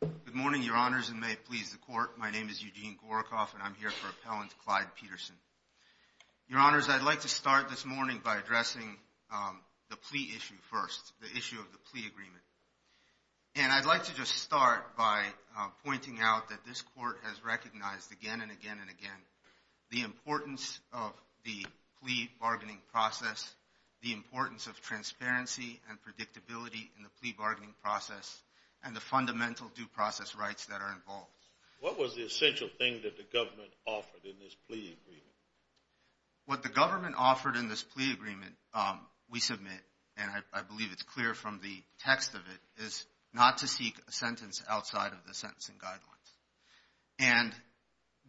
Good morning, Your Honors, and may it please the Court, my name is Eugene Gorokoff and I'm here for Appellant Clyde Peterson. Your Honors, I'd like to start this morning by addressing the plea issue first, the issue of the plea agreement. And I'd like to just start by pointing out that this Court has recognized again and again and again the importance of the plea bargaining process, the importance of transparency and predictability in the plea bargaining process, and the fundamental due process rights that are involved. What was the essential thing that the government offered in this plea agreement? What the government offered in this plea agreement, we submit, and I believe it's clear from the text of it, is not to seek a sentence outside of the sentencing guidelines. And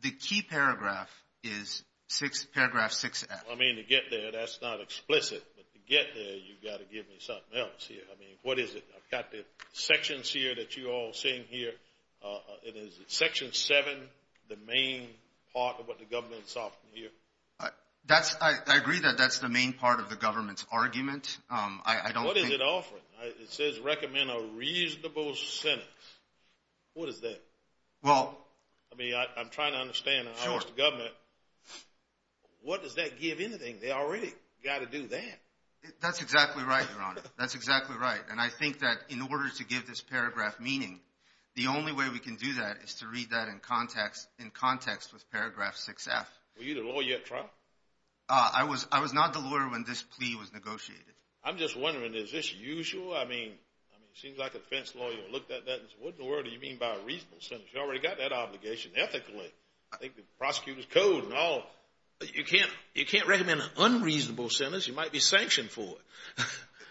the key paragraph is paragraph 6F. I mean, to get there, that's not explicit, but to get there, you've got to give me something else here. I mean, what is it? I've got the sections here that you're all seeing here. Is section 7 the main part of what the government is offering here? I agree that that's the main part of the government's argument. What is it offering? It says, recommend a reasonable sentence. What is that? Well, I mean, I'm trying to understand how much the government, what does that give anything? They already got to do that. That's exactly right, Your Honor. That's exactly right. And I think that in order to give this paragraph meaning, the only way we can do that is to read that in context with paragraph 6F. Were you the lawyer at trial? I was not the lawyer when this plea was negotiated. I'm just wondering, is this usual? I mean, it seems like a defense lawyer would look at that and say, what in the world do you mean by a reasonable sentence? You already got that obligation ethically. I think the prosecutor's code and all. You can't recommend an unreasonable sentence. You might be sanctioned for it.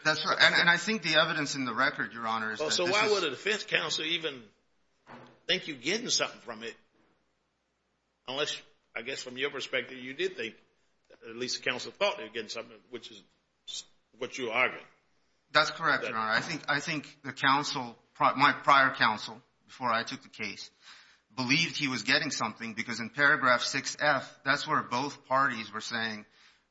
That's right, and I think the evidence in the record, Your Honor, is that this is— So why would a defense counsel even think you're getting something from it? Unless, I guess from your perspective, you did think, at least the counsel thought they were getting something, which is what you argued. That's correct, Your Honor. I think the counsel, my prior counsel before I took the case, believed he was getting something because in paragraph 6F, that's where both parties were saying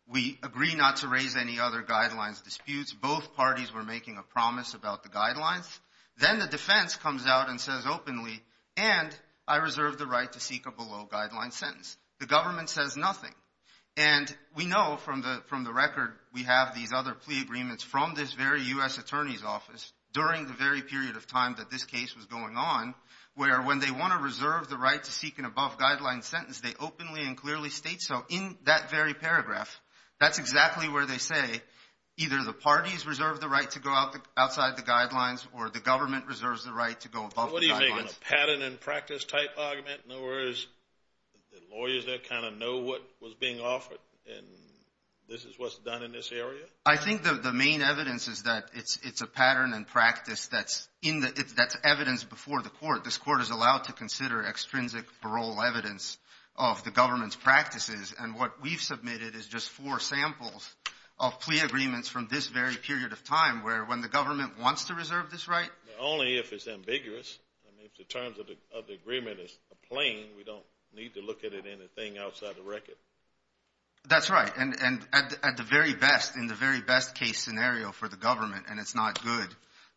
we agree not to raise any other guidelines disputes. Both parties were making a promise about the guidelines. Then the defense comes out and says openly, and I reserve the right to seek a below-guidelines sentence. The government says nothing. We know from the record we have these other plea agreements from this very U.S. Attorney's Office during the very period of time that this case was going on, where when they want to reserve the right to seek an above-guidelines sentence, they openly and clearly state so in that very paragraph. That's exactly where they say either the parties reserve the right to go outside the guidelines or the government reserves the right to go above the guidelines. What do you make of a pattern and practice type argument? In other words, the lawyers there kind of know what was being offered, and this is what's done in this area? I think the main evidence is that it's a pattern and practice that's evidence before the court. This court is allowed to consider extrinsic parole evidence of the government's practices, and what we've submitted is just four samples of plea agreements from this very period of time where when the government wants to reserve this right— Only if it's ambiguous. If the terms of the agreement is plain, we don't need to look at it as anything outside the record. That's right, and at the very best, in the very best case scenario for the government, and it's not good,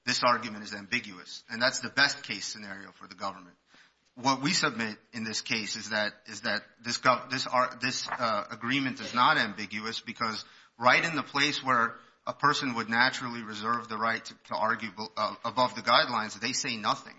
this argument is ambiguous, and that's the best case scenario for the government. What we submit in this case is that this agreement is not ambiguous because right in the place where a person would naturally reserve the right to argue above the guidelines, they say nothing,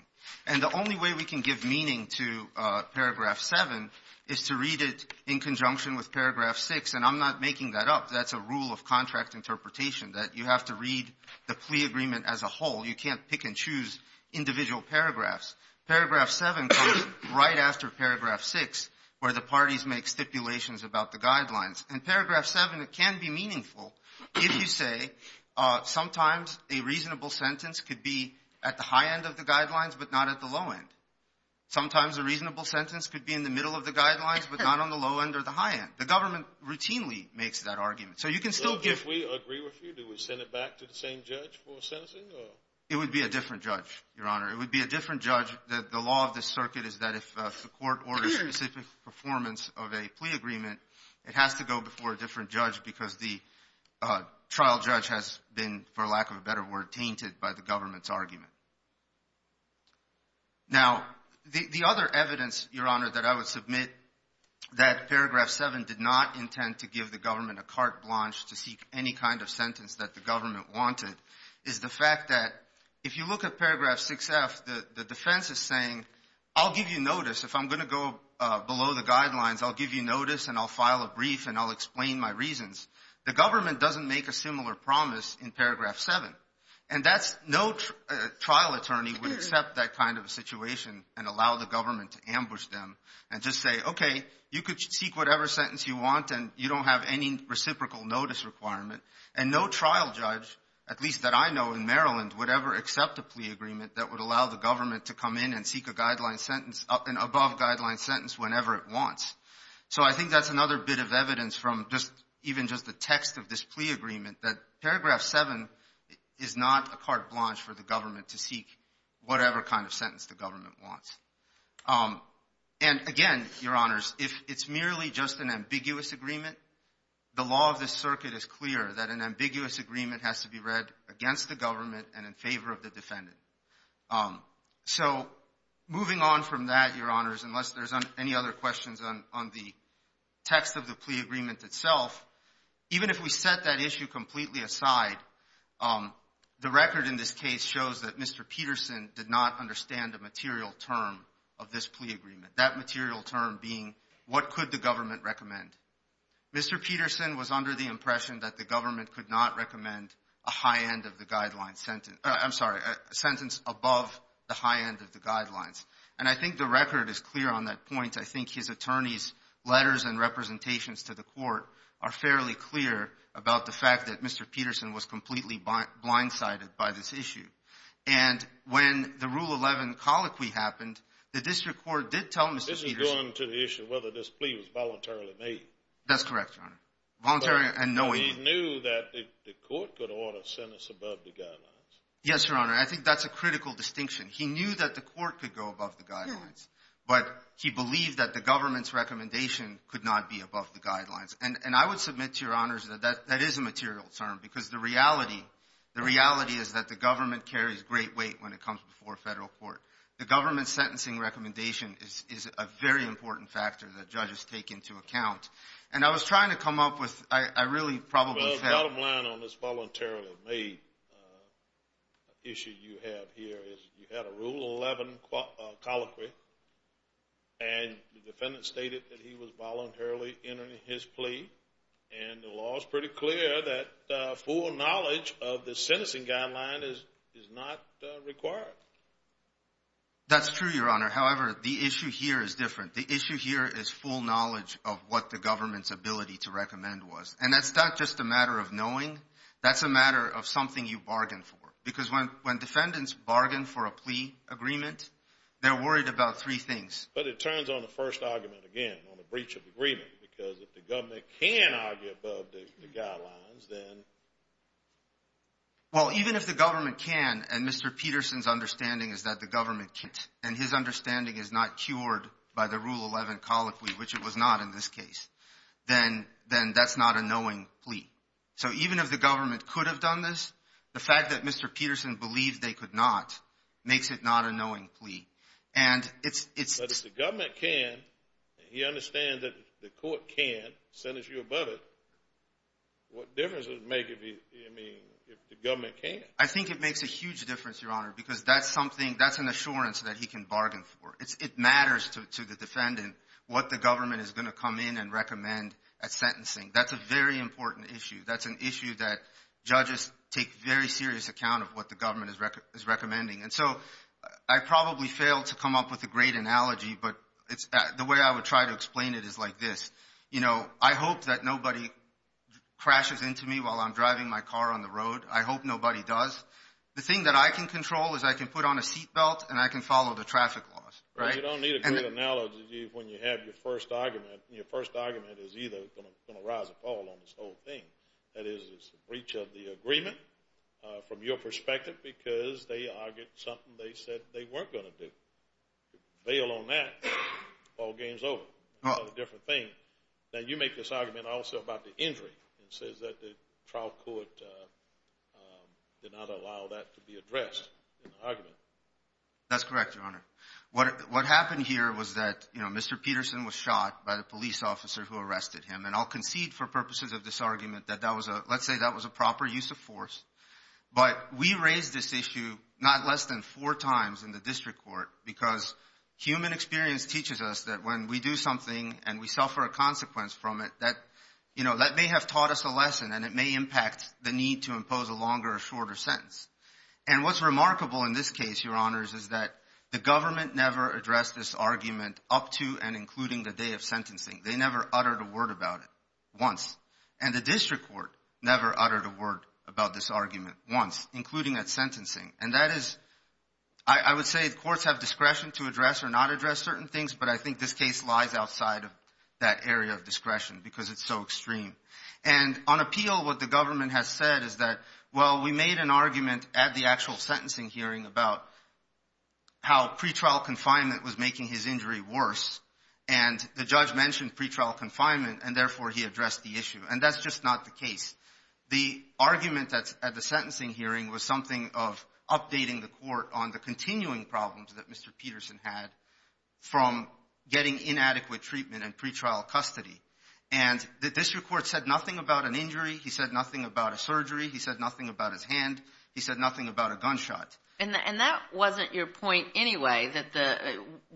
and the only way we can give meaning to Paragraph 7 is to read it in conjunction with Paragraph 6, and I'm not making that up. That's a rule of contract interpretation that you have to read the plea agreement as a whole. You can't pick and choose individual paragraphs. Paragraph 7 comes right after Paragraph 6 where the parties make stipulations about the guidelines, and Paragraph 7, it can be meaningful if you say sometimes a reasonable sentence could be at the high end of the guidelines but not at the low end. Sometimes a reasonable sentence could be in the middle of the guidelines but not on the low end or the high end. The government routinely makes that argument, so you can still give— So if we agree with you, do we send it back to the same judge for sentencing or— It would be a different judge, Your Honor. It would be a different judge. The law of this circuit is that if the court orders specific performance of a plea agreement, it has to go before a different judge because the trial judge has been, for lack of a better word, tainted by the government's argument. Now, the other evidence, Your Honor, that I would submit that Paragraph 7 did not intend to give the government a carte blanche to seek any kind of sentence that the government wanted is the fact that if you look at Paragraph 6F, the defense is saying, I'll give you notice. If I'm going to go below the guidelines, I'll give you notice, and I'll file a brief, and I'll explain my reasons. The government doesn't make a similar promise in Paragraph 7, and that's no trial attorney would accept that kind of a situation and allow the government to ambush them and just say, okay, you could seek whatever sentence you want, and you don't have any reciprocal notice requirement. And no trial judge, at least that I know in Maryland, would ever accept a plea agreement that would allow the government to come in and seek an above-guideline sentence whenever it wants. So I think that's another bit of evidence from even just the text of this plea agreement, that Paragraph 7 is not a carte blanche for the government to seek whatever kind of sentence the government wants. And again, Your Honors, if it's merely just an ambiguous agreement, the law of this circuit is clear that an ambiguous agreement has to be read against the government and in favor of the defendant. So moving on from that, Your Honors, unless there's any other questions on the text of the plea agreement itself, even if we set that issue completely aside, the record in this case shows that Mr. Peterson did not understand a material term of this plea agreement, that material term being what could the government recommend. Mr. Peterson was under the impression that the government could not recommend a sentence above the high end of the guidelines. And I think the record is clear on that point. I think his attorney's letters and representations to the court are fairly clear about the fact that Mr. Peterson was completely blindsided by this issue. And when the Rule 11 colloquy happened, the district court did tell Mr. Peterson. This is going to the issue of whether this plea was voluntarily made. That's correct, Your Honor. Voluntarily and knowingly. But he knew that the court could order a sentence above the guidelines. Yes, Your Honor. I think that's a critical distinction. He knew that the court could go above the guidelines, but he believed that the government's recommendation could not be above the guidelines. And I would submit to Your Honors that that is a material term because the reality is that the government carries great weight when it comes before a federal court. The government's sentencing recommendation is a very important factor that judges take into account. And I was trying to come up with – I really probably said – Well, the bottom line on this voluntarily made issue you have here is you had a Rule 11 colloquy, and the defendant stated that he was voluntarily entering his plea. And the law is pretty clear that full knowledge of the sentencing guideline is not required. That's true, Your Honor. However, the issue here is different. The issue here is full knowledge of what the government's ability to recommend was. And that's not just a matter of knowing. That's a matter of something you bargain for. Because when defendants bargain for a plea agreement, they're worried about three things. But it turns on the first argument again, on the breach of agreement, because if the government can argue above the guidelines, then – Well, even if the government can and Mr. Peterson's understanding is that the government can't and his understanding is not cured by the Rule 11 colloquy, which it was not in this case, then that's not a knowing plea. So even if the government could have done this, the fact that Mr. Peterson believed they could not makes it not a knowing plea. And it's – But if the government can and he understands that the court can't sentence you above it, what difference does it make if the government can't? I think it makes a huge difference, Your Honor, because that's something – that's an assurance that he can bargain for. It matters to the defendant what the government is going to come in and recommend at sentencing. That's a very important issue. That's an issue that judges take very serious account of what the government is recommending. And so I probably failed to come up with a great analogy, but the way I would try to explain it is like this. You know, I hope that nobody crashes into me while I'm driving my car on the road. I hope nobody does. The thing that I can control is I can put on a seat belt and I can follow the traffic laws, right? You don't need a good analogy when you have your first argument. And your first argument is either going to rise or fall on this whole thing. That is, it's a breach of the agreement from your perspective because they argued something they said they weren't going to do. If you fail on that, the ball game is over. It's a different thing. Now, you make this argument also about the injury and says that the trial court did not allow that to be addressed in the argument. That's correct, Your Honor. What happened here was that, you know, Mr. Peterson was shot by the police officer who arrested him. And I'll concede for purposes of this argument that that was a – let's say that was a proper use of force. But we raised this issue not less than four times in the district court because human experience teaches us that when we do something and we suffer a consequence from it, that, you know, that may have taught us a lesson and it may impact the need to impose a longer or shorter sentence. And what's remarkable in this case, Your Honors, is that the government never addressed this argument up to and including the day of sentencing. They never uttered a word about it once. And the district court never uttered a word about this argument once, including at sentencing. And that is – I would say courts have discretion to address or not address certain things, but I think this case lies outside of that area of discretion because it's so extreme. And on appeal, what the government has said is that, well, we made an argument at the actual sentencing hearing about how pretrial confinement was making his injury worse, and the judge mentioned pretrial confinement, and therefore he addressed the issue. And that's just not the case. The argument at the sentencing hearing was something of updating the court on the continuing problems that Mr. Peterson had from getting inadequate treatment in pretrial custody. And the district court said nothing about an injury. He said nothing about a surgery. He said nothing about his hand. He said nothing about a gunshot. And that wasn't your point anyway, that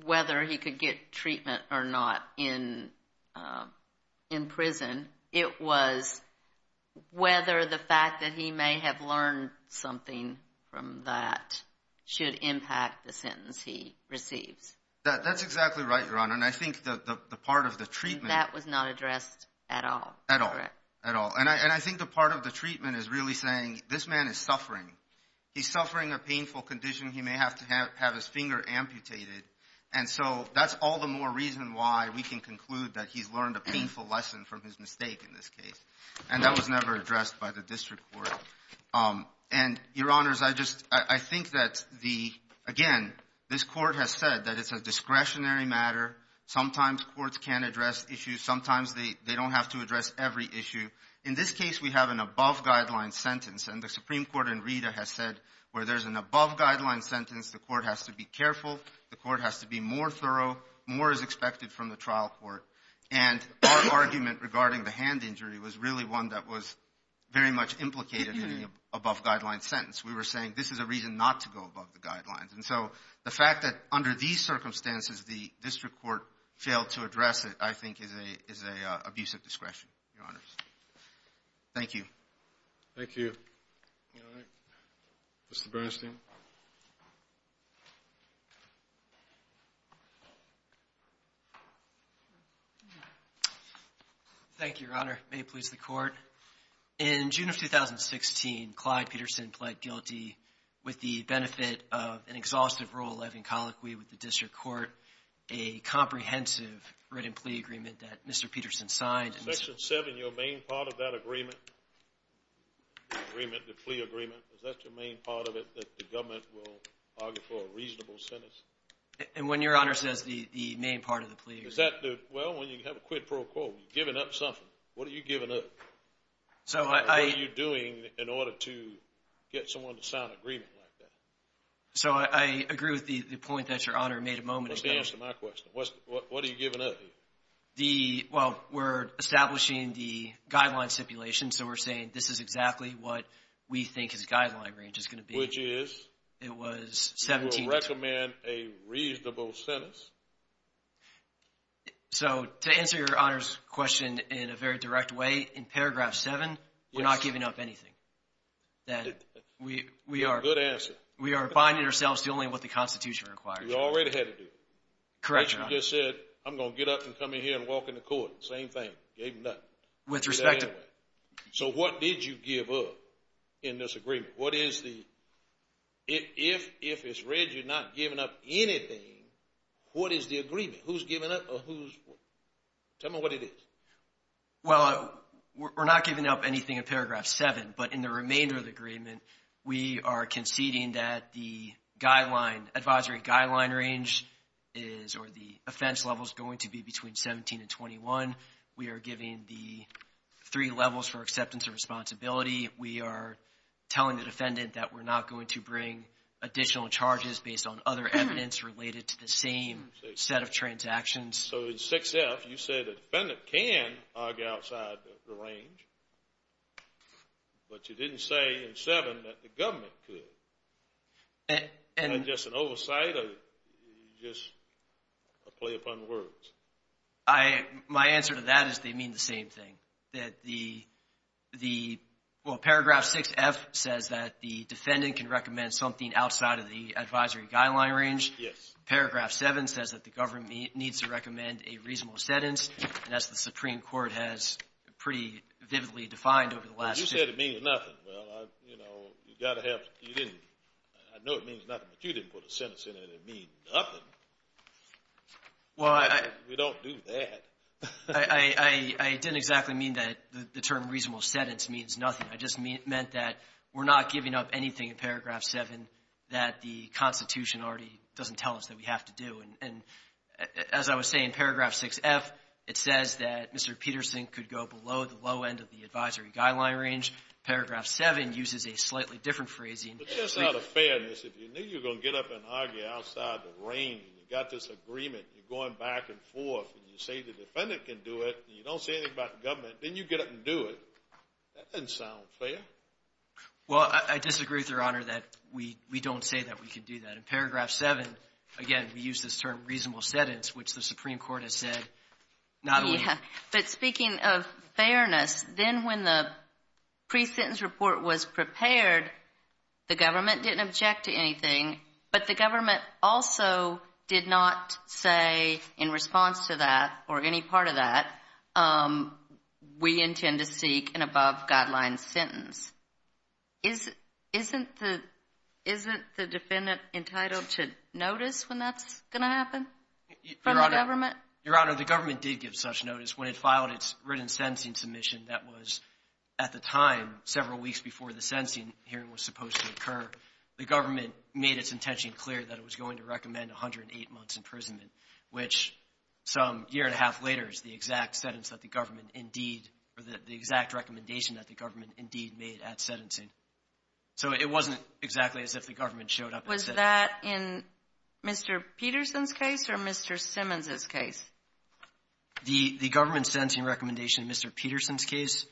whether he could get treatment or not in prison. It was whether the fact that he may have learned something from that should impact the sentence he receives. That's exactly right, Your Honor. And I think the part of the treatment. That was not addressed at all. At all. And I think the part of the treatment is really saying this man is suffering. He's suffering a painful condition. He may have to have his finger amputated. And so that's all the more reason why we can conclude that he's learned a painful lesson from his mistake in this case. And that was never addressed by the district court. And, Your Honors, I think that, again, this court has said that it's a discretionary matter. Sometimes courts can't address issues. Sometimes they don't have to address every issue. In this case, we have an above-guideline sentence. And the Supreme Court in Rita has said where there's an above-guideline sentence, the court has to be careful. The court has to be more thorough. More is expected from the trial court. And our argument regarding the hand injury was really one that was very much implicated in the above-guideline sentence. We were saying this is a reason not to go above the guidelines. And so the fact that under these circumstances the district court failed to address it, I think, is an abuse of discretion, Your Honors. Thank you. Thank you. All right. Mr. Bernstein. Thank you, Your Honor. May it please the court. In June of 2016, Clyde Peterson pled guilty with the benefit of an exhaustive Rule 11 colloquy with the district court, a comprehensive written plea agreement that Mr. Peterson signed. Section 7, your main part of that agreement, the agreement, the plea agreement, is that your main part of it that the government will argue for a reasonable sentence? And when Your Honor says the main part of the plea agreement. Well, when you have a quid pro quo, you're giving up something. What are you giving up? What are you doing in order to get someone to sign an agreement like that? So I agree with the point that Your Honor made a moment ago. What's the answer to my question? What are you giving up here? Well, we're establishing the guideline stipulation, so we're saying this is exactly what we think his guideline range is going to be. Which is? It was 17- I recommend a reasonable sentence. So to answer Your Honor's question in a very direct way, in paragraph 7, we're not giving up anything. Good answer. We are finding ourselves doing what the Constitution requires. You already had to do it. Correct, Your Honor. You just said, I'm going to get up and come in here and walk in the court. Same thing. Gave nothing. With respect to. So what did you give up in this agreement? What is the- if it's read you're not giving up anything, what is the agreement? Who's giving up or who's- tell me what it is. Well, we're not giving up anything in paragraph 7, but in the remainder of the agreement, we are conceding that the advisory guideline range is, or the offense level, is going to be between 17 and 21. We are giving the three levels for acceptance and responsibility. We are telling the defendant that we're not going to bring additional charges based on other evidence related to the same set of transactions. So in 6F, you said the defendant can argue outside the range, but you didn't say in 7 that the government could. And- Is that just an oversight or just a play upon words? I- my answer to that is they mean the same thing. That the- well, paragraph 6F says that the defendant can recommend something outside of the advisory guideline range. Yes. Paragraph 7 says that the government needs to recommend a reasonable sentence, and that's what the Supreme Court has pretty vividly defined over the last- Well, you said it means nothing. Well, you know, you've got to have- you didn't- I know it means nothing, but you didn't put a sentence in it that means nothing. Well, I- We don't do that. I didn't exactly mean that the term reasonable sentence means nothing. I just meant that we're not giving up anything in paragraph 7 that the Constitution already doesn't tell us that we have to do. And as I was saying, paragraph 6F, it says that Mr. Peterson could go below the low end of the advisory guideline range. Paragraph 7 uses a slightly different phrasing. But just out of fairness, if you knew you were going to get up and argue outside the range, and you've got this agreement, and you're going back and forth, and you say the defendant can do it, and you don't say anything about the government, then you get up and do it. That doesn't sound fair. Well, I disagree, Your Honor, that we don't say that we can do that. In paragraph 7, again, we use this term reasonable sentence, which the Supreme Court has said not only- The government didn't object to anything, but the government also did not say in response to that or any part of that, we intend to seek an above-guideline sentence. Isn't the defendant entitled to notice when that's going to happen from the government? Your Honor, the government did give such notice when it filed its written sentencing submission that was, at the time, several weeks before the sentencing hearing was supposed to occur. The government made its intention clear that it was going to recommend 108 months' imprisonment, which some year and a half later is the exact sentence that the government indeed or the exact recommendation that the government indeed made at sentencing. So it wasn't exactly as if the government showed up and said- Was that in Mr. Peterson's case or Mr. Simmons's case? The government sentencing recommendation in Mr. Peterson's case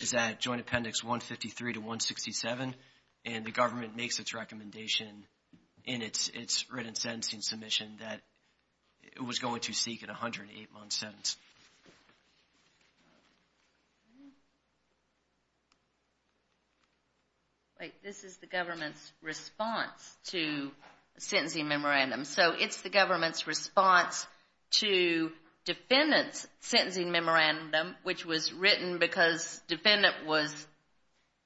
is at Joint Appendix 153 to 167, and the government makes its recommendation in its written sentencing submission that it was going to seek an 108-month sentence. Wait. This is the government's response to a sentencing memorandum. So it's the government's response to defendant's sentencing memorandum, which was written because defendant was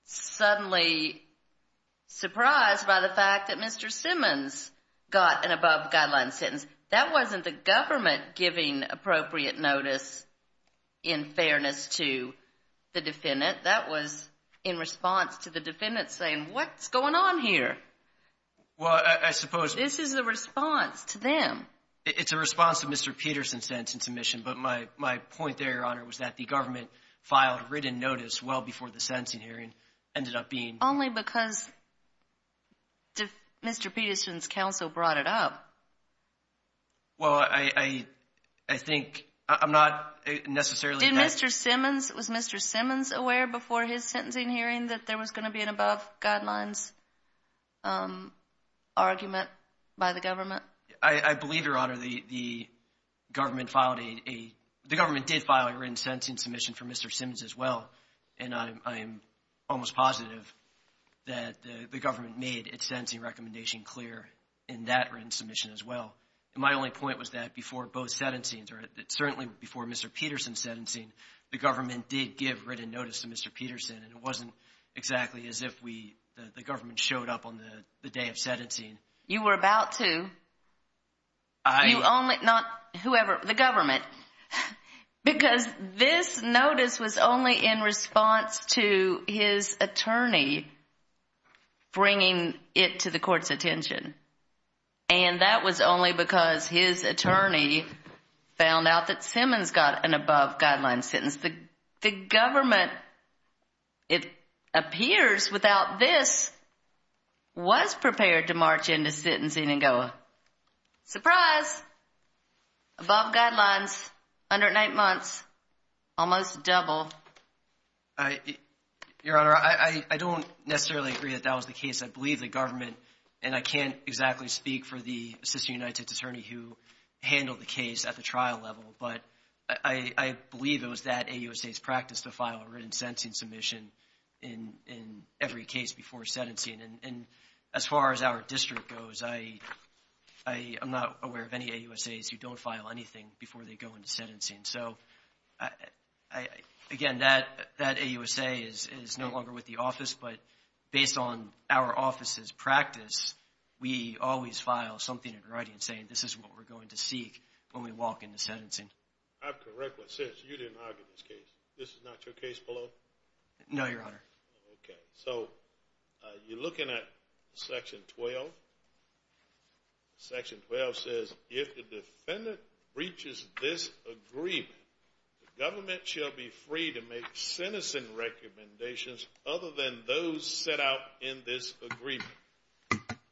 suddenly surprised by the fact that Mr. Simmons got an above-the-guideline sentence. That wasn't the government giving appropriate notice in fairness to the defendant. That was in response to the defendant saying, what's going on here? Well, I suppose- This is a response to them. It's a response to Mr. Peterson's sentencing submission, but my point there, Your Honor, was that the government filed written notice well before the sentencing hearing ended up being- Only because Mr. Peterson's counsel brought it up. Well, I think I'm not necessarily- Was Mr. Simmons aware before his sentencing hearing that there was going to be an above-guidelines argument by the government? I believe, Your Honor, the government filed a- The government did file a written sentencing submission for Mr. Simmons as well, and I am almost positive that the government made its sentencing recommendation clear in that written submission as well. And my only point was that before both sentencings, or certainly before Mr. Peterson's sentencing, the government did give written notice to Mr. Peterson, and it wasn't exactly as if the government showed up on the day of sentencing. You were about to. I- You only- Not whoever. The government. Because this notice was only in response to his attorney bringing it to the court's attention, and that was only because his attorney found out that Simmons got an above-guidelines sentence. The government, it appears, without this, was prepared to march into sentencing and go, surprise, above guidelines, under eight months, almost double. I- Your Honor, I don't necessarily agree that that was the case. I believe the government, and I can't exactly speak for the Assistant United States Attorney who handled the case at the trial level, but I believe it was that AUSA's practice to file a written sentencing submission in every case before sentencing. And as far as our district goes, I'm not aware of any AUSAs who don't file anything before they go into sentencing. So, again, that AUSA is no longer with the office, but based on our office's practice, we always file something in writing saying this is what we're going to seek when we walk into sentencing. I've correctly said you didn't argue this case. This is not your case below? No, Your Honor. Okay. So, you're looking at Section 12. Section 12 says, if the defendant breaches this agreement, the government shall be free to make sentencing recommendations other than those set out in this agreement.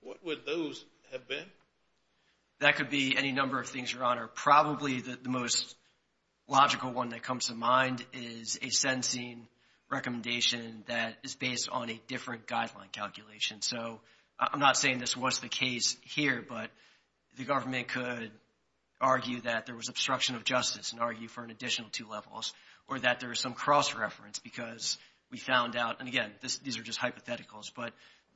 What would those have been? Your Honor, probably the most logical one that comes to mind is a sentencing recommendation that is based on a different guideline calculation. So, I'm not saying this was the case here, but the government could argue that there was obstruction of justice and argue for an additional two levels, or that there was some cross-reference because we found out, and again, these are just hypotheticals, but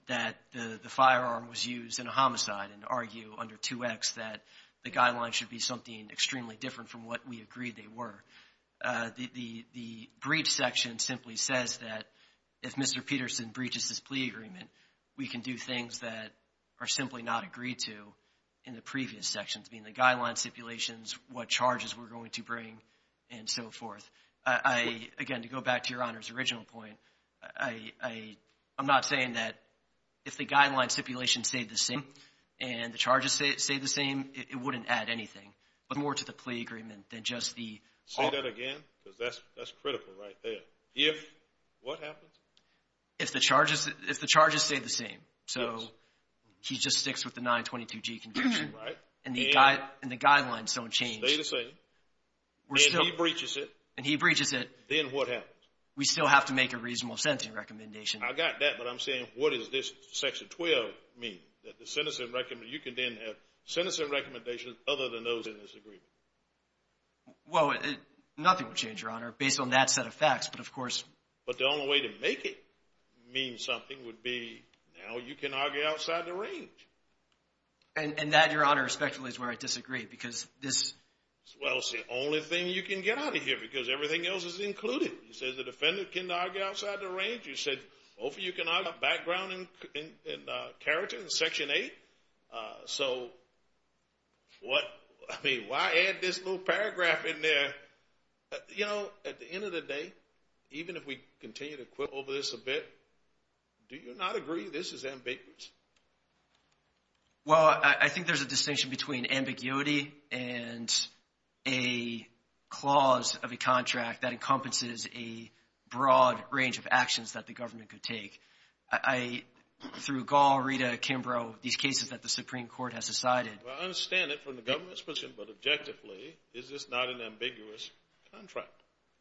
that the firearm was used in a homicide and argue under 2X that the guidelines should be something extremely different from what we agreed they were. The breach section simply says that if Mr. Peterson breaches this plea agreement, we can do things that are simply not agreed to in the previous sections, being the guideline stipulations, what charges we're going to bring, and so forth. Again, to go back to Your Honor's original point, I'm not saying that if the guideline stipulations stayed the same and the charges stayed the same, it wouldn't add anything, but more to the plea agreement than just the— Say that again because that's critical right there. If what happens? If the charges stayed the same, so he just sticks with the 922G conviction. And the guidelines don't change. And he breaches it. And he breaches it. Then what happens? We still have to make a reasonable sentencing recommendation. I got that, but I'm saying what does this section 12 mean? That the sentencing—you can then have sentencing recommendations other than those in this agreement. Well, nothing will change, Your Honor, based on that set of facts, but of course— But the only way to make it mean something would be now you can argue outside the range. And that, Your Honor, respectfully, is where I disagree because this— Well, it's the only thing you can get out of here because everything else is included. You said the defendant can argue outside the range. You said both of you can argue about background and character in Section 8. So what—I mean, why add this little paragraph in there? You know, at the end of the day, even if we continue to quibble over this a bit, do you not agree this is ambiguous? Well, I think there's a distinction between ambiguity and a clause of a contract that encompasses a broad range of actions that the government could take. Through Gall, Rita, Kimbrough, these cases that the Supreme Court has decided— I understand it from the government's perspective, but objectively, is this not an ambiguous contract?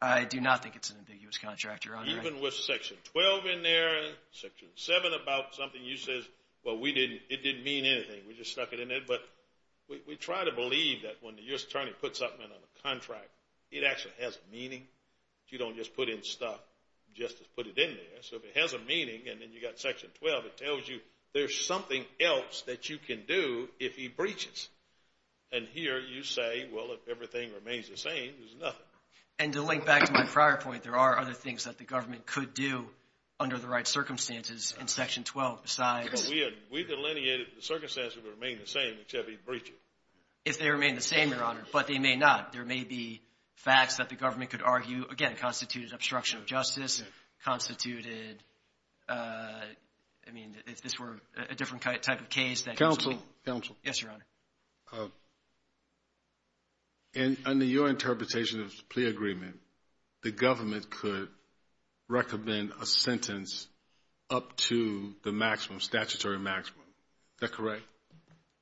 I do not think it's an ambiguous contract, Your Honor. Even with Section 12 in there, Section 7, about something you said, well, we didn't—it didn't mean anything. We just stuck it in there. But we try to believe that when the U.S. attorney puts something in on a contract, it actually has meaning. You don't just put in stuff just to put it in there. So if it has a meaning and then you've got Section 12, it tells you there's something else that you can do if he breaches. And here you say, well, if everything remains the same, there's nothing. And to link back to my prior point, there are other things that the government could do under the right circumstances in Section 12 besides— We've delineated the circumstances that would remain the same except if he breaches. If they remain the same, Your Honor, but they may not. There may be facts that the government could argue, again, constituted obstruction of justice, constituted—I mean, if this were a different type of case— Counsel. Yes, Your Honor. And under your interpretation of the plea agreement, the government could recommend a sentence up to the maximum, statutory maximum. Is that correct?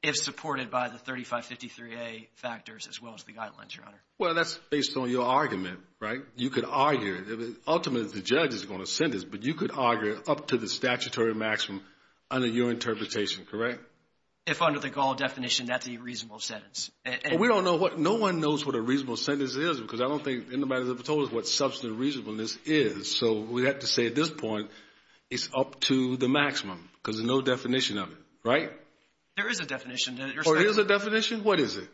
If supported by the 3553A factors as well as the guidelines, Your Honor. Well, that's based on your argument, right? You could argue—ultimately, the judge is going to sentence, but you could argue up to the statutory maximum under your interpretation, correct? If under the Gall definition, that's a reasonable sentence. We don't know what—no one knows what a reasonable sentence is because I don't think anybody's ever told us what substantive reasonableness is. So we have to say at this point, it's up to the maximum because there's no definition of it, right? There is a definition. There is a definition? What is it?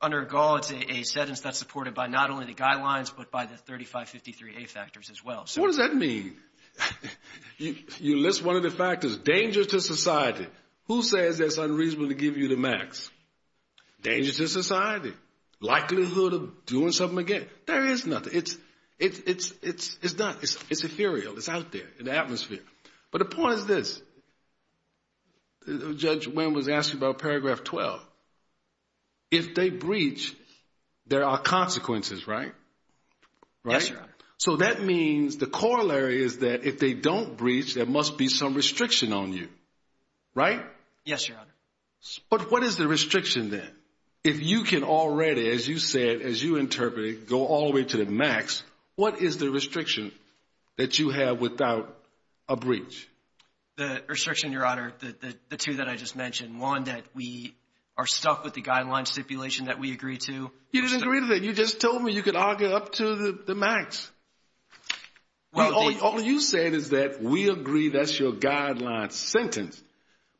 Under Gall, it's a sentence that's supported by not only the guidelines, but by the 3553A factors as well. What does that mean? You list one of the factors, danger to society. Who says that's unreasonable to give you the max? Danger to society. Likelihood of doing something again. There is nothing. It's not. It's ethereal. It's out there in the atmosphere. But the point is this. Judge Wynn was asking about paragraph 12. If they breach, there are consequences, right? Yes, Your Honor. So that means the corollary is that if they don't breach, there must be some restriction on you, right? Yes, Your Honor. But what is the restriction then? If you can already, as you said, as you interpreted, go all the way to the max, what is the restriction that you have without a breach? The restriction, Your Honor, the two that I just mentioned, one that we are stuck with the guideline stipulation that we agree to. You didn't agree to that. You just told me you could argue up to the max. All you said is that we agree that's your guideline sentence.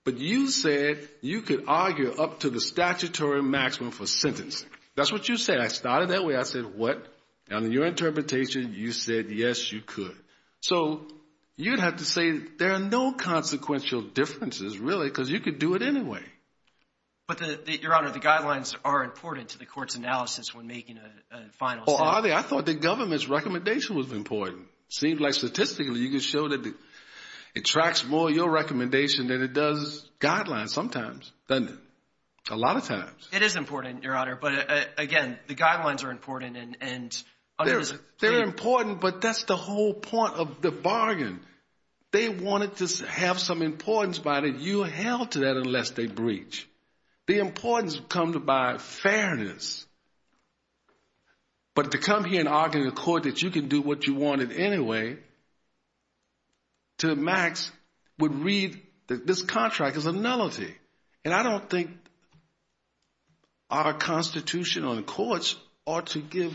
But you said you could argue up to the statutory maximum for sentencing. That's what you said. I started that way. I said what? And in your interpretation, you said yes, you could. So you'd have to say there are no consequential differences really because you could do it anyway. But, Your Honor, the guidelines are important to the court's analysis when making a final sentence. I thought the government's recommendation was important. It seems like statistically you can show that it tracks more your recommendation than it does guidelines sometimes, doesn't it? A lot of times. It is important, Your Honor. But, again, the guidelines are important. They wanted to have some importance by that you are held to that unless they breach. The importance comes by fairness. But to come here and argue in court that you can do what you wanted anyway to the max would read that this contract is a nullity. And I don't think our Constitution on the courts ought to give,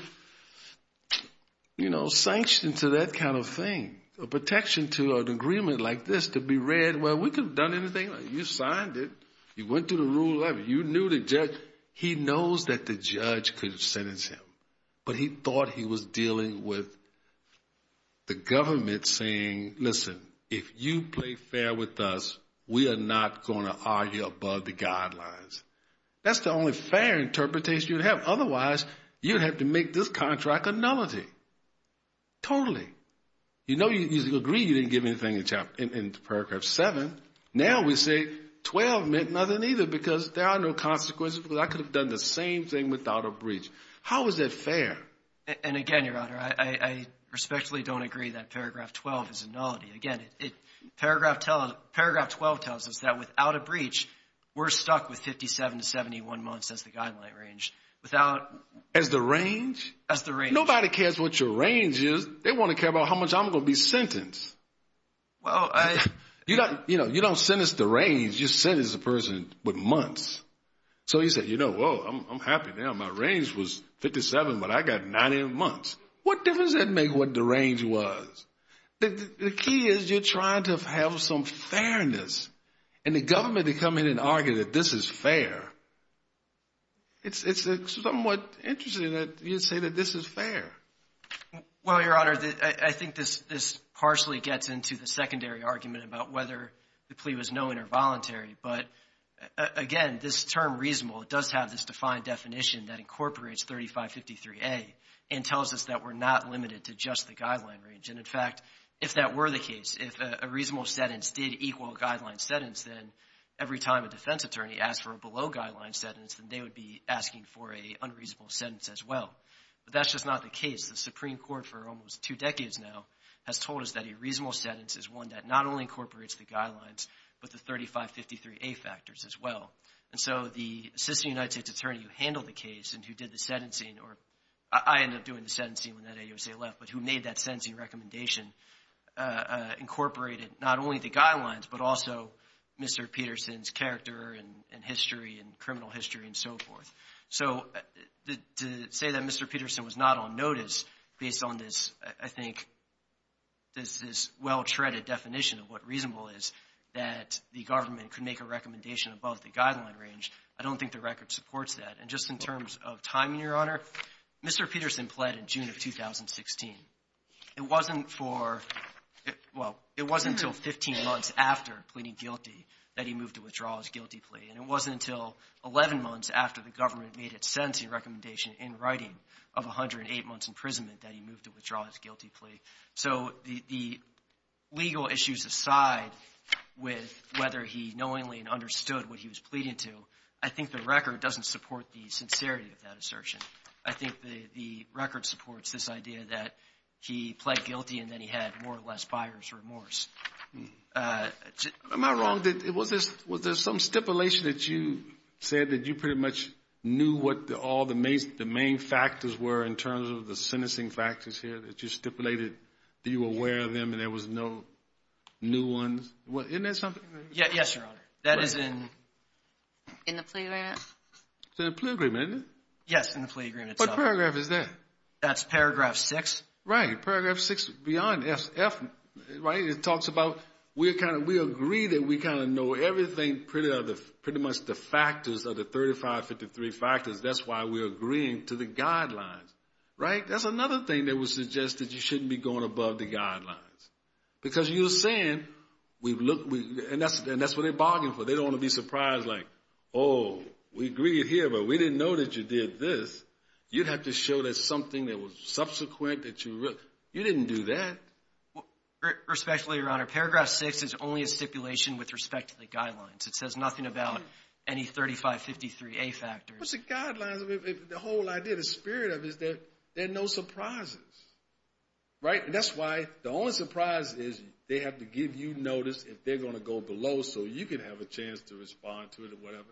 you know, sanctions to that kind of thing. A protection to an agreement like this to be read, well, we could have done anything. You signed it. You went through the rules. You knew the judge. He knows that the judge could have sentenced him. But he thought he was dealing with the government saying, listen, if you play fair with us, we are not going to argue above the guidelines. That's the only fair interpretation you'd have. Otherwise, you'd have to make this contract a nullity. Totally. You know you agreed you didn't give anything in Paragraph 7. Now we say 12 meant nothing either because there are no consequences because I could have done the same thing without a breach. How is that fair? And again, Your Honor, I respectfully don't agree that Paragraph 12 is a nullity. Again, Paragraph 12 tells us that without a breach, we're stuck with 57 to 71 months as the guideline range. As the range? As the range. Nobody cares what your range is. They want to care about how much I'm going to be sentenced. Well, I — You don't sentence the range. You sentence a person with months. So he said, you know, whoa, I'm happy now. My range was 57, but I got 90 months. What difference does that make what the range was? The key is you're trying to have some fairness. And the government to come in and argue that this is fair, it's somewhat interesting that you say that this is fair. Well, Your Honor, I think this partially gets into the secondary argument about whether the plea was knowing or voluntary. But, again, this term reasonable, it does have this defined definition that incorporates 3553A and tells us that we're not limited to just the guideline range. And, in fact, if that were the case, if a reasonable sentence did equal a guideline sentence, then every time a defense attorney asked for a below-guideline sentence, then they would be asking for an unreasonable sentence as well. But that's just not the case. The Supreme Court for almost two decades now has told us that a reasonable sentence is one that not only incorporates the guidelines, but the 3553A factors as well. And so the assistant United States attorney who handled the case and who did the sentencing, or I ended up doing the sentencing when that AUSA left, but who made that sentencing recommendation, incorporated not only the guidelines, but also Mr. Peterson's character and history and criminal history and so forth. So to say that Mr. Peterson was not on notice based on this, I think, this well-treaded definition of what reasonable is, that the government could make a recommendation above the guideline range, I don't think the record supports that. And just in terms of timing, Your Honor, Mr. Peterson pled in June of 2016. It wasn't for — well, it wasn't until 15 months after pleading guilty that he moved to withdraw his guilty plea. And it wasn't until 11 months after the government made its sentencing recommendation in writing of 108 months' imprisonment that he moved to withdraw his guilty plea. So the legal issues aside with whether he knowingly understood what he was pleading to, I think the record doesn't support the sincerity of that assertion. I think the record supports this idea that he pled guilty and then he had more or less buyer's remorse. Am I wrong? Was there some stipulation that you said that you pretty much knew what all the main factors were in terms of the sentencing factors here that you stipulated that you were aware of them and there was no new ones? Isn't that something? Yes, Your Honor. That is in the plea agreement. It's in the plea agreement, isn't it? Yes, in the plea agreement. What paragraph is that? That's paragraph 6. Right. That's paragraph 6 beyond F, right? It talks about we agree that we kind of know everything pretty much the factors of the 3553 factors. That's why we're agreeing to the guidelines, right? That's another thing that was suggested. You shouldn't be going above the guidelines. Because you're saying, and that's what they're bargaining for. They don't want to be surprised like, oh, we agree here, but we didn't know that you did this. You'd have to show that something that was subsequent that you didn't do that. Respectfully, Your Honor, paragraph 6 is only a stipulation with respect to the guidelines. It says nothing about any 3553A factors. Well, it's a guideline. The whole idea, the spirit of it is that there are no surprises, right? And that's why the only surprise is they have to give you notice if they're going to go below so you can have a chance to respond to it or whatever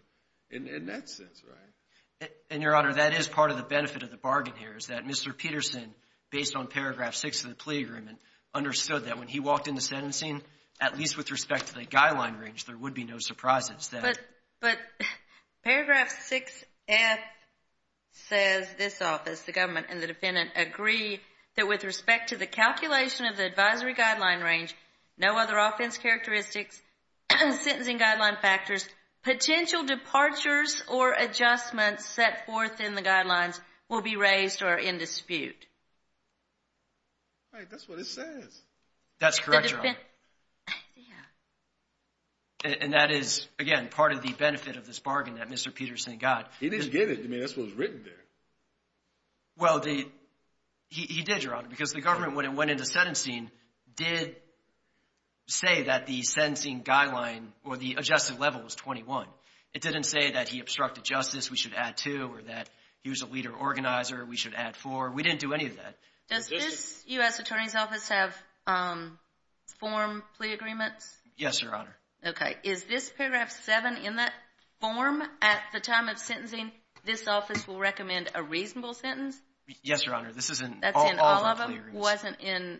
in that sense, right? And, Your Honor, that is part of the benefit of the bargain here, is that Mr. Peterson, based on paragraph 6 of the plea agreement, understood that when he walked into sentencing, at least with respect to the guideline range, there would be no surprises. But paragraph 6F says this office, the government and the defendant, agree that with respect to the calculation of the advisory guideline range, no other offense characteristics, sentencing guideline factors, potential departures or adjustments set forth in the guidelines will be raised or in dispute. That's what it says. That's correct, Your Honor. And that is, again, part of the benefit of this bargain that Mr. Peterson got. He didn't get it. I mean, that's what was written there. Well, he did, Your Honor, because the government, when it went into sentencing, did say that the sentencing guideline or the adjusted level was 21. It didn't say that he obstructed justice, we should add 2, or that he was a leader organizer, we should add 4. We didn't do any of that. Does this U.S. Attorney's Office have form plea agreements? Yes, Your Honor. Okay. Is this paragraph 7 in that form? At the time of sentencing, this office will recommend a reasonable sentence? Yes, Your Honor. This is in all of our plea agreements. That's in all of them? It wasn't in?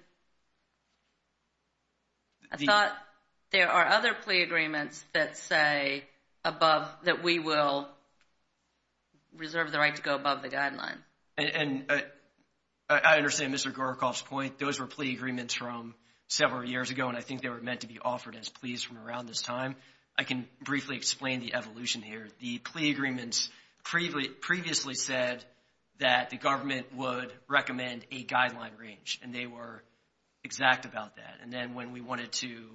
I thought there are other plea agreements that say above that we will reserve the right to go above the guideline. And I understand Mr. Gorokoff's point. Those were plea agreements from several years ago, and I think they were meant to be offered as pleas from around this time. I can briefly explain the evolution here. The plea agreements previously said that the government would recommend a guideline range, and they were exact about that. And then when we wanted to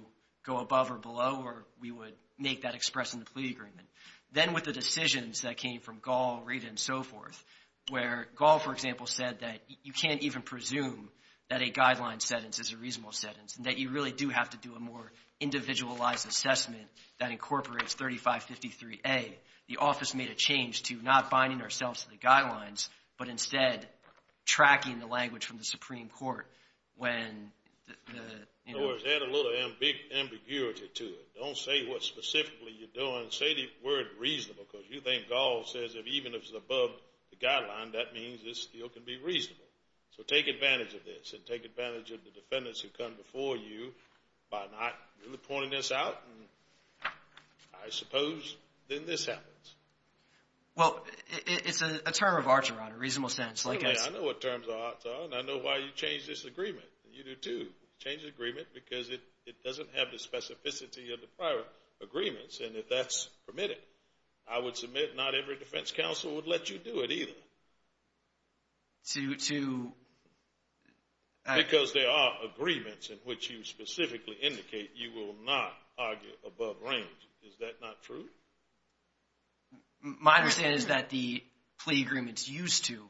go above or below, we would make that express in the plea agreement. Then with the decisions that came from Gall, Rada, and so forth, where Gall, for example, said that you can't even presume that a guideline sentence is a reasonable sentence and that you really do have to do a more individualized assessment that incorporates 3553A, the office made a change to not binding ourselves to the guidelines, but instead tracking the language from the Supreme Court when the, you know. In other words, add a little ambiguity to it. Don't say what specifically you're doing. Say the word reasonable because you think Gall says that even if it's above the guideline, that means it still can be reasonable. So take advantage of this and take advantage of the defendants who come before you by not really pointing this out. I suppose then this happens. Well, it's a term of art, Your Honor, reasonable sentence. I know what terms of art are, and I know why you changed this agreement. You do too. Change the agreement because it doesn't have the specificity of the prior agreements, and if that's permitted, I would submit not every defense counsel would let you do it either. To? Because there are agreements in which you specifically indicate you will not argue above range. Is that not true? My understanding is that the plea agreements used to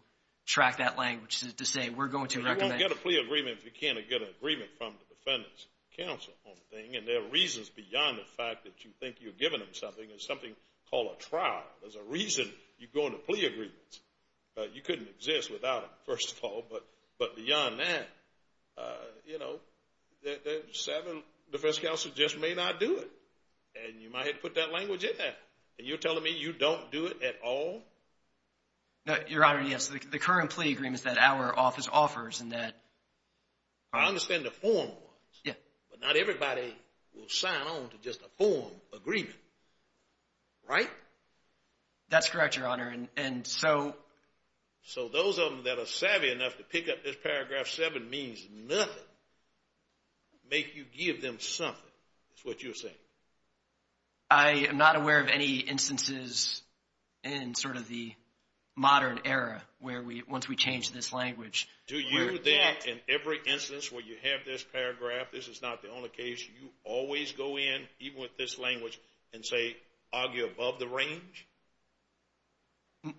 track that language to say we're going to recommend. You won't get a plea agreement if you can't get an agreement from the defendant's counsel on the thing, and there are reasons beyond the fact that you think you're giving them something. There's something called a trial. There's a reason you go into plea agreements. You couldn't exist without them, first of all, but beyond that, you know, the defense counsel just may not do it, and you might have put that language in there, and you're telling me you don't do it at all? No, Your Honor, yes. The current plea agreement is that our office offers and that. I understand the form was, but not everybody will sign on to just a form agreement, right? That's correct, Your Honor, and so. So those of them that are savvy enough to pick up this paragraph 7 means nothing make you give them something, is what you're saying? I am not aware of any instances in sort of the modern era where once we change this language. Do you then in every instance where you have this paragraph, this is not the only case, you always go in, even with this language, and say argue above the range?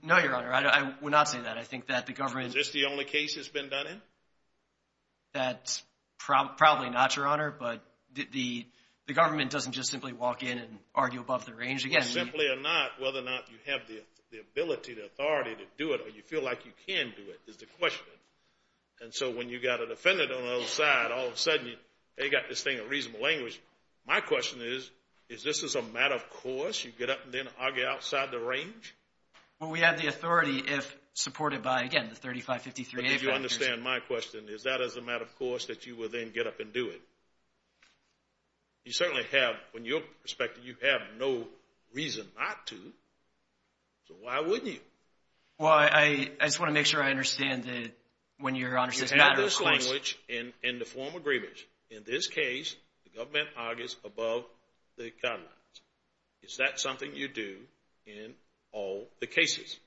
No, Your Honor, I would not say that. I think that the government. Is this the only case that's been done in? That's probably not, Your Honor, but the government doesn't just simply walk in and argue above the range. Simply or not, whether or not you have the ability, the authority to do it or you feel like you can do it is the question, and so when you've got a defendant on the other side, all of a sudden, they've got this thing of reasonable language. My question is, is this a matter of course you get up and then argue outside the range? Well, we have the authority if supported by, again, the 3553A factors. But did you understand my question? Is that as a matter of course that you will then get up and do it? You certainly have, from your perspective, you have no reason not to, so why wouldn't you? Well, I just want to make sure I understand that when, Your Honor, it's a matter of course. You have this language in the form of grievance. In this case, the government argues above the guidelines. Is that something you do in all the cases?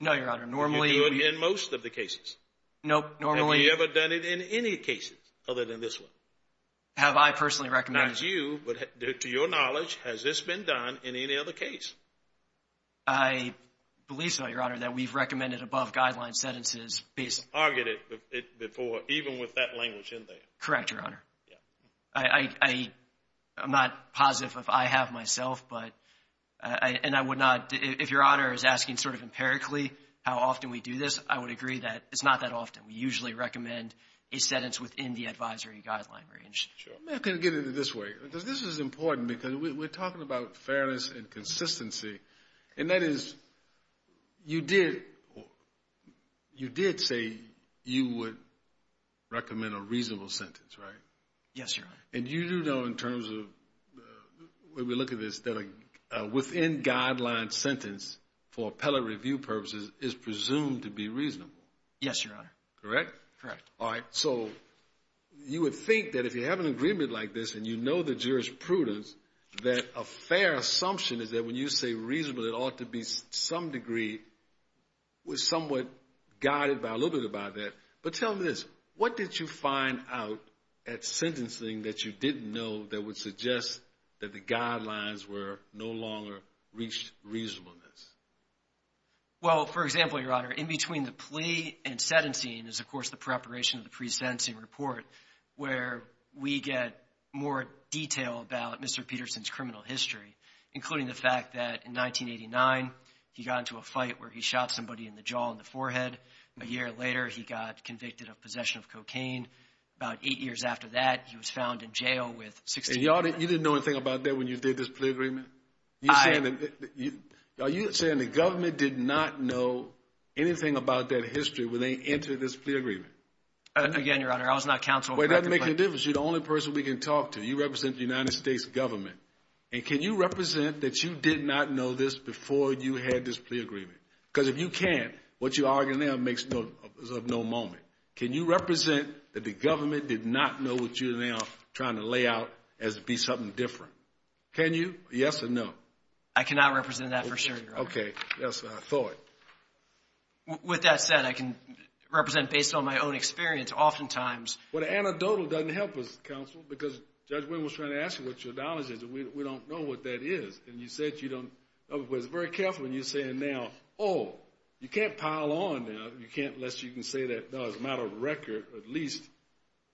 No, Your Honor, normally. Do you do it in most of the cases? Nope, normally. Have you ever done it in any cases other than this one? Have I personally recommended it? Not you, but to your knowledge, has this been done in any other case? I believe so, Your Honor, that we've recommended above-guideline sentences. Targeted before, even with that language in there. Correct, Your Honor. I'm not positive if I have myself, but I would not, if Your Honor is asking sort of empirically how often we do this, I would agree that it's not that often. We usually recommend a sentence within the advisory guideline range. I'm going to get at it this way because this is important because we're talking about fairness and consistency, and that is you did say you would recommend a reasonable sentence, right? Yes, Your Honor. And you do know in terms of when we look at this that a within-guideline sentence for appellate review purposes is presumed to be reasonable? Yes, Your Honor. Correct? Correct. All right, so you would think that if you have an agreement like this and you know the jurisprudence, that a fair assumption is that when you say reasonable, it ought to be to some degree somewhat guided by a little bit about that. But tell me this, what did you find out at sentencing that you didn't know that would suggest that the guidelines were no longer reached reasonableness? Well, for example, Your Honor, in between the plea and sentencing is, of course, the preparation of the pre-sentencing report where we get more detail about Mr. Peterson's criminal history, including the fact that in 1989, he got into a fight where he shot somebody in the jaw and the forehead. A year later, he got convicted of possession of cocaine. About eight years after that, he was found in jail with 16 years in prison. And you didn't know anything about that when you did this plea agreement? Are you saying the government did not know anything about that history when they entered this plea agreement? Again, Your Honor, I was not counsel. Well, it doesn't make any difference. You're the only person we can talk to. You represent the United States government. And can you represent that you did not know this before you had this plea agreement? Because if you can't, what you're arguing now is of no moment. Can you represent that the government did not know what you're now trying to lay out as to be something different? Can you? Yes or no? I cannot represent that for sure, Your Honor. Okay. That's what I thought. With that said, I can represent based on my own experience. Oftentimes. Well, anecdotal doesn't help us, counsel, because Judge Winn was trying to ask you what your knowledge is, and we don't know what that is. And you said you don't. I was very careful in you saying now, oh, you can't pile on now. You can't unless you can say that, no, as a matter of record, at least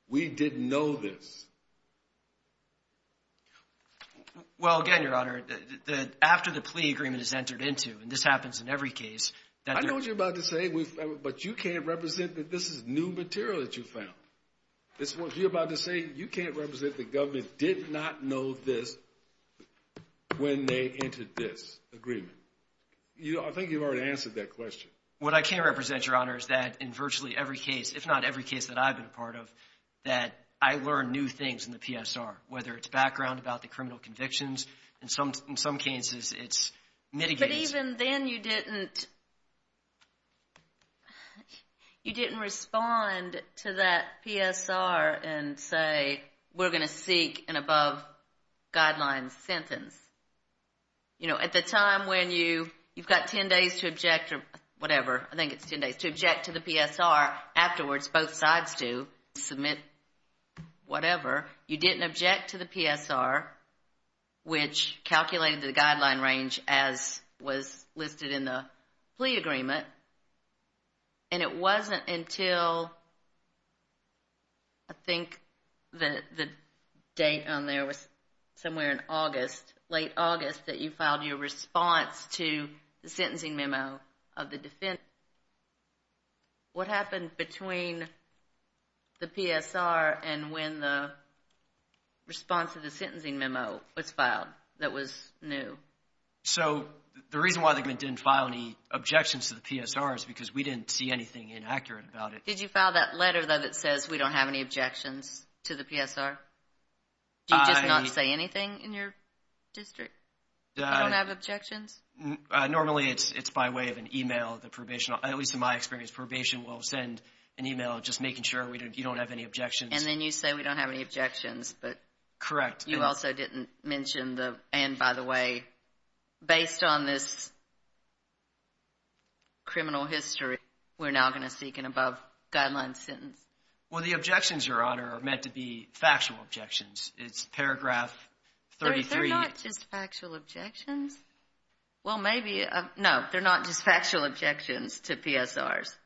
we didn't know this. Well, again, Your Honor, after the plea agreement is entered into, and this happens in every case. I know what you're about to say, but you can't represent that this is new material that you found. You're about to say you can't represent the government did not know this when they entered this agreement. I think you've already answered that question. What I can represent, Your Honor, is that in virtually every case, if not every case that I've been a part of, that I learn new things in the PSR, whether it's background about the criminal convictions. In some cases, it's mitigating. But even then you didn't respond to that PSR and say we're going to seek an above-guidelines sentence. You know, at the time when you've got 10 days to object or whatever, I think it's 10 days to object to the PSR, afterwards both sides do, submit whatever. You didn't object to the PSR, which calculated the guideline range as was listed in the plea agreement. And it wasn't until I think the date on there was somewhere in August, late August, that you filed your response to the sentencing memo of the defense. What happened between the PSR and when the response to the sentencing memo was filed that was new? So the reason why they didn't file any objections to the PSR is because we didn't see anything inaccurate about it. Did you file that letter, though, that says we don't have any objections to the PSR? Do you just not say anything in your district? You don't have objections? Normally it's by way of an email. At least in my experience, probation will send an email just making sure you don't have any objections. And then you say we don't have any objections. Correct. You also didn't mention the, and by the way, based on this criminal history, we're now going to seek an above-guidelines sentence. Well, the objections, Your Honor, are meant to be factual objections. It's paragraph 33. They're not just factual objections? Well, maybe. No, they're not just factual objections to PSRs.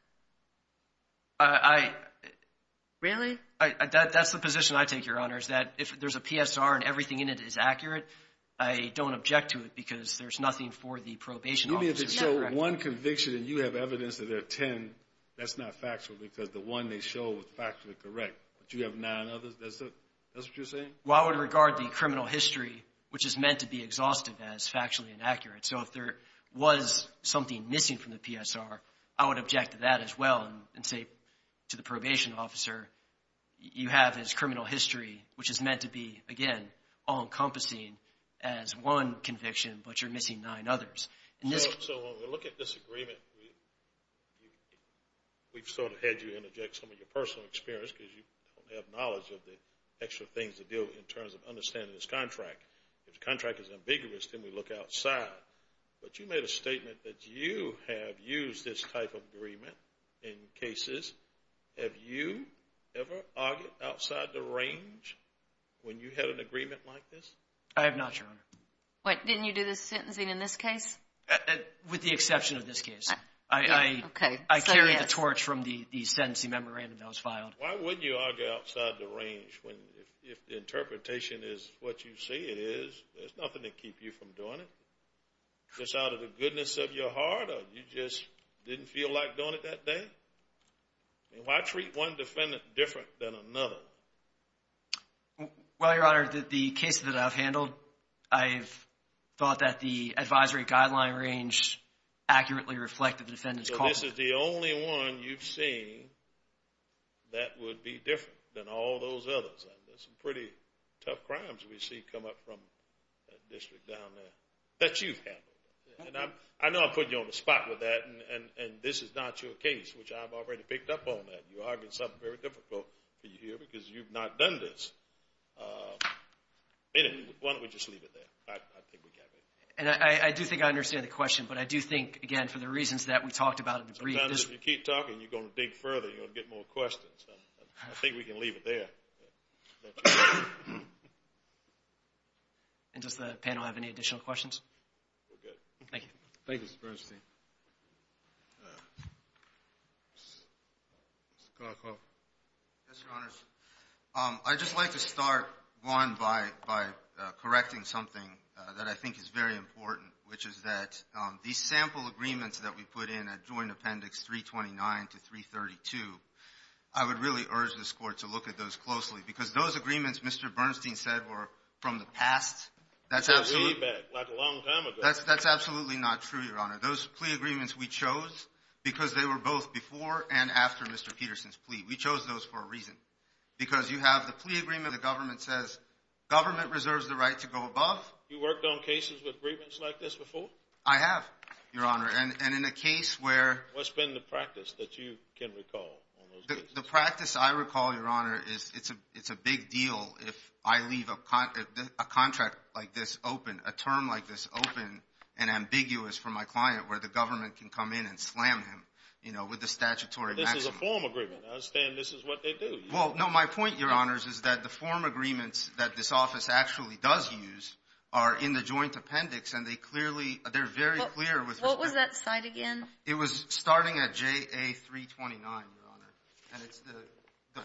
Really? That's the position I take, Your Honor, is that if there's a PSR and everything in it is accurate, I don't object to it because there's nothing for the probation officer. Even if it's just one conviction and you have evidence that there are ten, that's not factual because the one they show is factually correct, but you have nine others? That's what you're saying? Well, I would regard the criminal history, which is meant to be exhaustive, as factually inaccurate. So if there was something missing from the PSR, I would object to that as well and say to the probation officer, you have this criminal history, which is meant to be, again, all-encompassing as one conviction, but you're missing nine others. So when we look at this agreement, we've sort of had you interject some of your personal experience because you don't have knowledge of the extra things to do in terms of understanding this contract. If the contract is ambiguous, then we look outside. But you made a statement that you have used this type of agreement in cases. Have you ever argued outside the range when you had an agreement like this? I have not, Your Honor. What, didn't you do the sentencing in this case? With the exception of this case. I carried the torch from the sentencing memorandum that was filed. Why wouldn't you argue outside the range if the interpretation is what you say it is? There's nothing to keep you from doing it. Just out of the goodness of your heart or you just didn't feel like doing it that day? Why treat one defendant different than another? Well, Your Honor, the cases that I've handled, I've thought that the advisory guideline range accurately reflected the defendant's cause. So this is the only one you've seen that would be different than all those others. There's some pretty tough crimes we see come up from that district down there that you've handled. I know I'm putting you on the spot with that, and this is not your case, which I've already picked up on that. You're arguing something very difficult for you here because you've not done this. Anyway, why don't we just leave it there? I think we got it. And I do think I understand the question, but I do think, again, for the reasons that we talked about in the brief. Sometimes if you keep talking, you're going to dig further and you're going to get more questions. I think we can leave it there. And does the panel have any additional questions? We're good. Thank you. Thank you, Mr. Bernstein. Mr. Kalkhoff. Yes, Your Honors. I'd just like to start, one, by correcting something that I think is very important, which is that these sample agreements that we put in at Joint Appendix 329 to 332, I would really urge this Court to look at those closely because those agreements Mr. Bernstein said were from the past. That's really bad. Like a long time ago. That's absolutely not true, Your Honor. Those plea agreements we chose because they were both before and after Mr. Peterson's plea. We chose those for a reason because you have the plea agreement. The government says government reserves the right to go above. You worked on cases with grievance like this before? I have, Your Honor. And in a case where— What's been the practice that you can recall on those cases? The practice I recall, Your Honor, is it's a big deal if I leave a contract like this open, a term like this open and ambiguous for my client where the government can come in and slam him with the statutory maximum. That's a form agreement. I understand this is what they do. Well, no. My point, Your Honor, is that the form agreements that this office actually does use are in the Joint Appendix, and they clearly—they're very clear with respect to— What was that site again? It was starting at JA 329, Your Honor, and it's the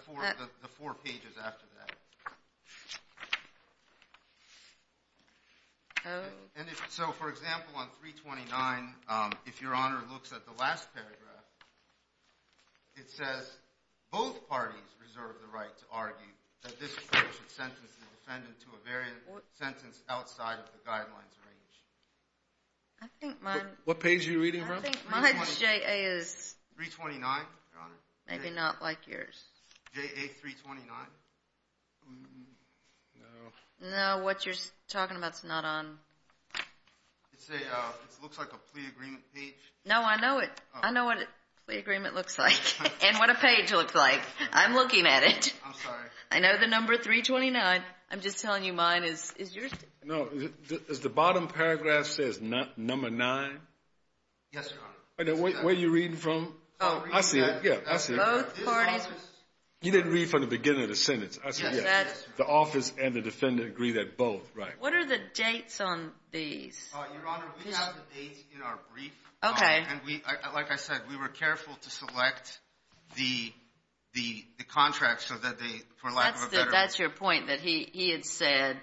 four pages after that. Oh. And so, for example, on 329, if Your Honor looks at the last paragraph, it says, both parties reserve the right to argue that this court should sentence the defendant to a variant sentence outside of the guidelines range. I think my— What page are you reading from? I think my JA is— 329, Your Honor? Maybe not like yours. JA 329? No. No, what you're talking about is not on— It looks like a plea agreement page. No, I know it. I know what a plea agreement looks like and what a page looks like. I'm looking at it. I'm sorry. I know the number 329. I'm just telling you mine is yours. No. Does the bottom paragraph say number nine? Yes, Your Honor. Where are you reading from? I see it. Yeah, I see it. Both parties— You didn't read from the beginning of the sentence. The office and the defendant agree that both, right? What are the dates on these? Your Honor, we have the dates in our brief. Okay. Like I said, we were careful to select the contracts so that they, for lack of a better— That's your point, that he had said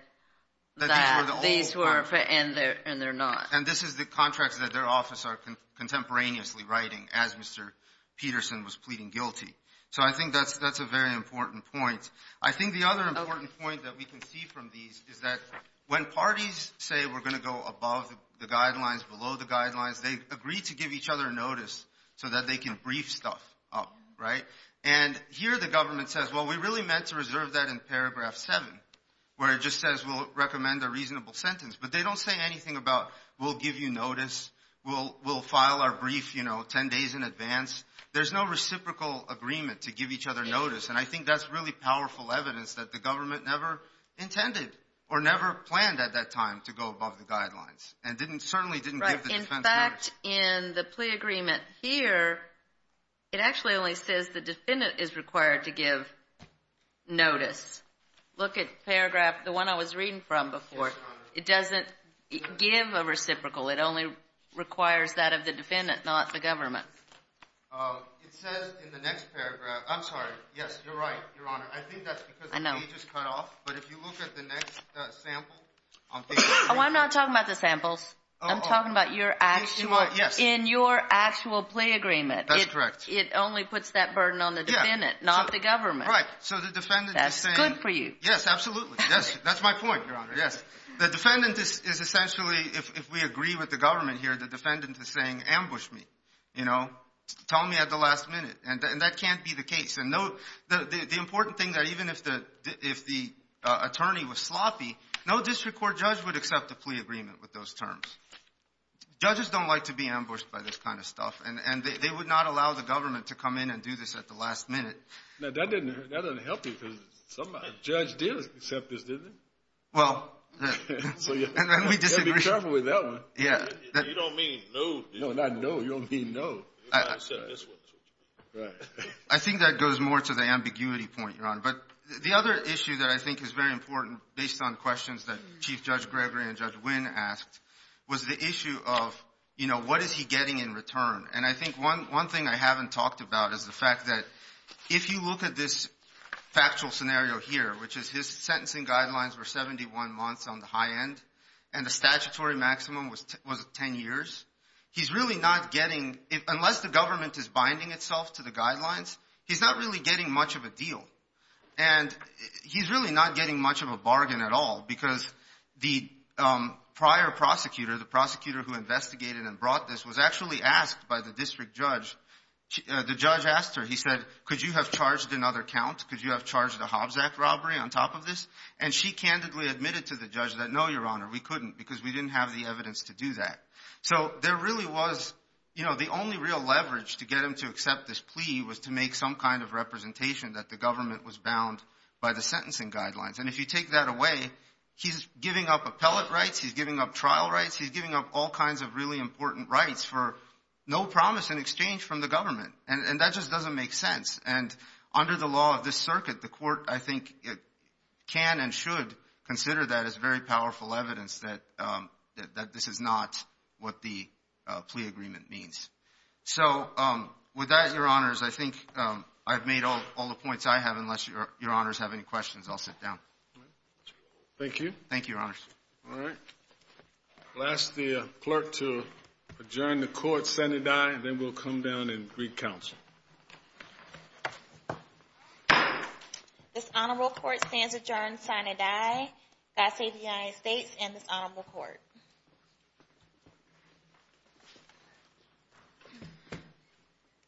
that these were— And they're not. And this is the contracts that their office are contemporaneously writing as Mr. Peterson was pleading guilty. So I think that's a very important point. I think the other important point that we can see from these is that when parties say we're going to go above the guidelines, below the guidelines, they agree to give each other notice so that they can brief stuff up, right? And here the government says, well, we really meant to reserve that in paragraph seven, where it just says we'll recommend a reasonable sentence. But they don't say anything about we'll give you notice, we'll file our brief 10 days in advance. There's no reciprocal agreement to give each other notice. And I think that's really powerful evidence that the government never intended or never planned at that time to go above the guidelines and certainly didn't give the defense notice. In fact, in the plea agreement here, it actually only says the defendant is required to give notice. Look at paragraph—the one I was reading from before. It doesn't give a reciprocal. It says in the next paragraph—I'm sorry. Yes, you're right, Your Honor. I think that's because the page is cut off. But if you look at the next sample— Oh, I'm not talking about the samples. I'm talking about your actual—in your actual plea agreement. That's correct. It only puts that burden on the defendant, not the government. Right. So the defendant is saying— That's good for you. Yes, absolutely. That's my point, Your Honor. Yes. The defendant is essentially—if we agree with the government here, the defendant is saying ambush me. You know, tell me at the last minute. And that can't be the case. And the important thing that even if the attorney was sloppy, no district court judge would accept a plea agreement with those terms. Judges don't like to be ambushed by this kind of stuff. And they would not allow the government to come in and do this at the last minute. Now, that doesn't help you because some judge did accept this, didn't they? Well— So you have to be careful with that one. You don't mean no, do you? No, not no. You don't mean no. I think that goes more to the ambiguity point, Your Honor. But the other issue that I think is very important based on questions that Chief Judge Gregory and Judge Wynn asked was the issue of, you know, what is he getting in return? And I think one thing I haven't talked about is the fact that if you look at this factual scenario here, which is his sentencing guidelines were 71 months on the high end and the statutory maximum was 10 years, he's really not getting, unless the government is binding itself to the guidelines, he's not really getting much of a deal. And he's really not getting much of a bargain at all because the prior prosecutor, the prosecutor who investigated and brought this, was actually asked by the district judge, the judge asked her, he said, could you have charged another count? Could you have charged a Hobbs Act robbery on top of this? And she candidly admitted to the judge that, no, Your Honor, we couldn't because we didn't have the evidence to do that. So there really was, you know, the only real leverage to get him to accept this plea was to make some kind of representation that the government was bound by the sentencing guidelines. And if you take that away, he's giving up appellate rights, he's giving up trial rights, he's giving up all kinds of really important rights for no promise in exchange from the government. And that just doesn't make sense. And under the law of this circuit, the court, I think, can and should consider that as very powerful evidence that this is not what the plea agreement means. So with that, Your Honors, I think I've made all the points I have unless Your Honors have any questions. I'll sit down. Thank you. Thank you, Your Honors. All right. I'll ask the clerk to adjourn the court sine die and then we'll come down and greet counsel. This honorable court stands adjourned sine die. God save the United States and this honorable court.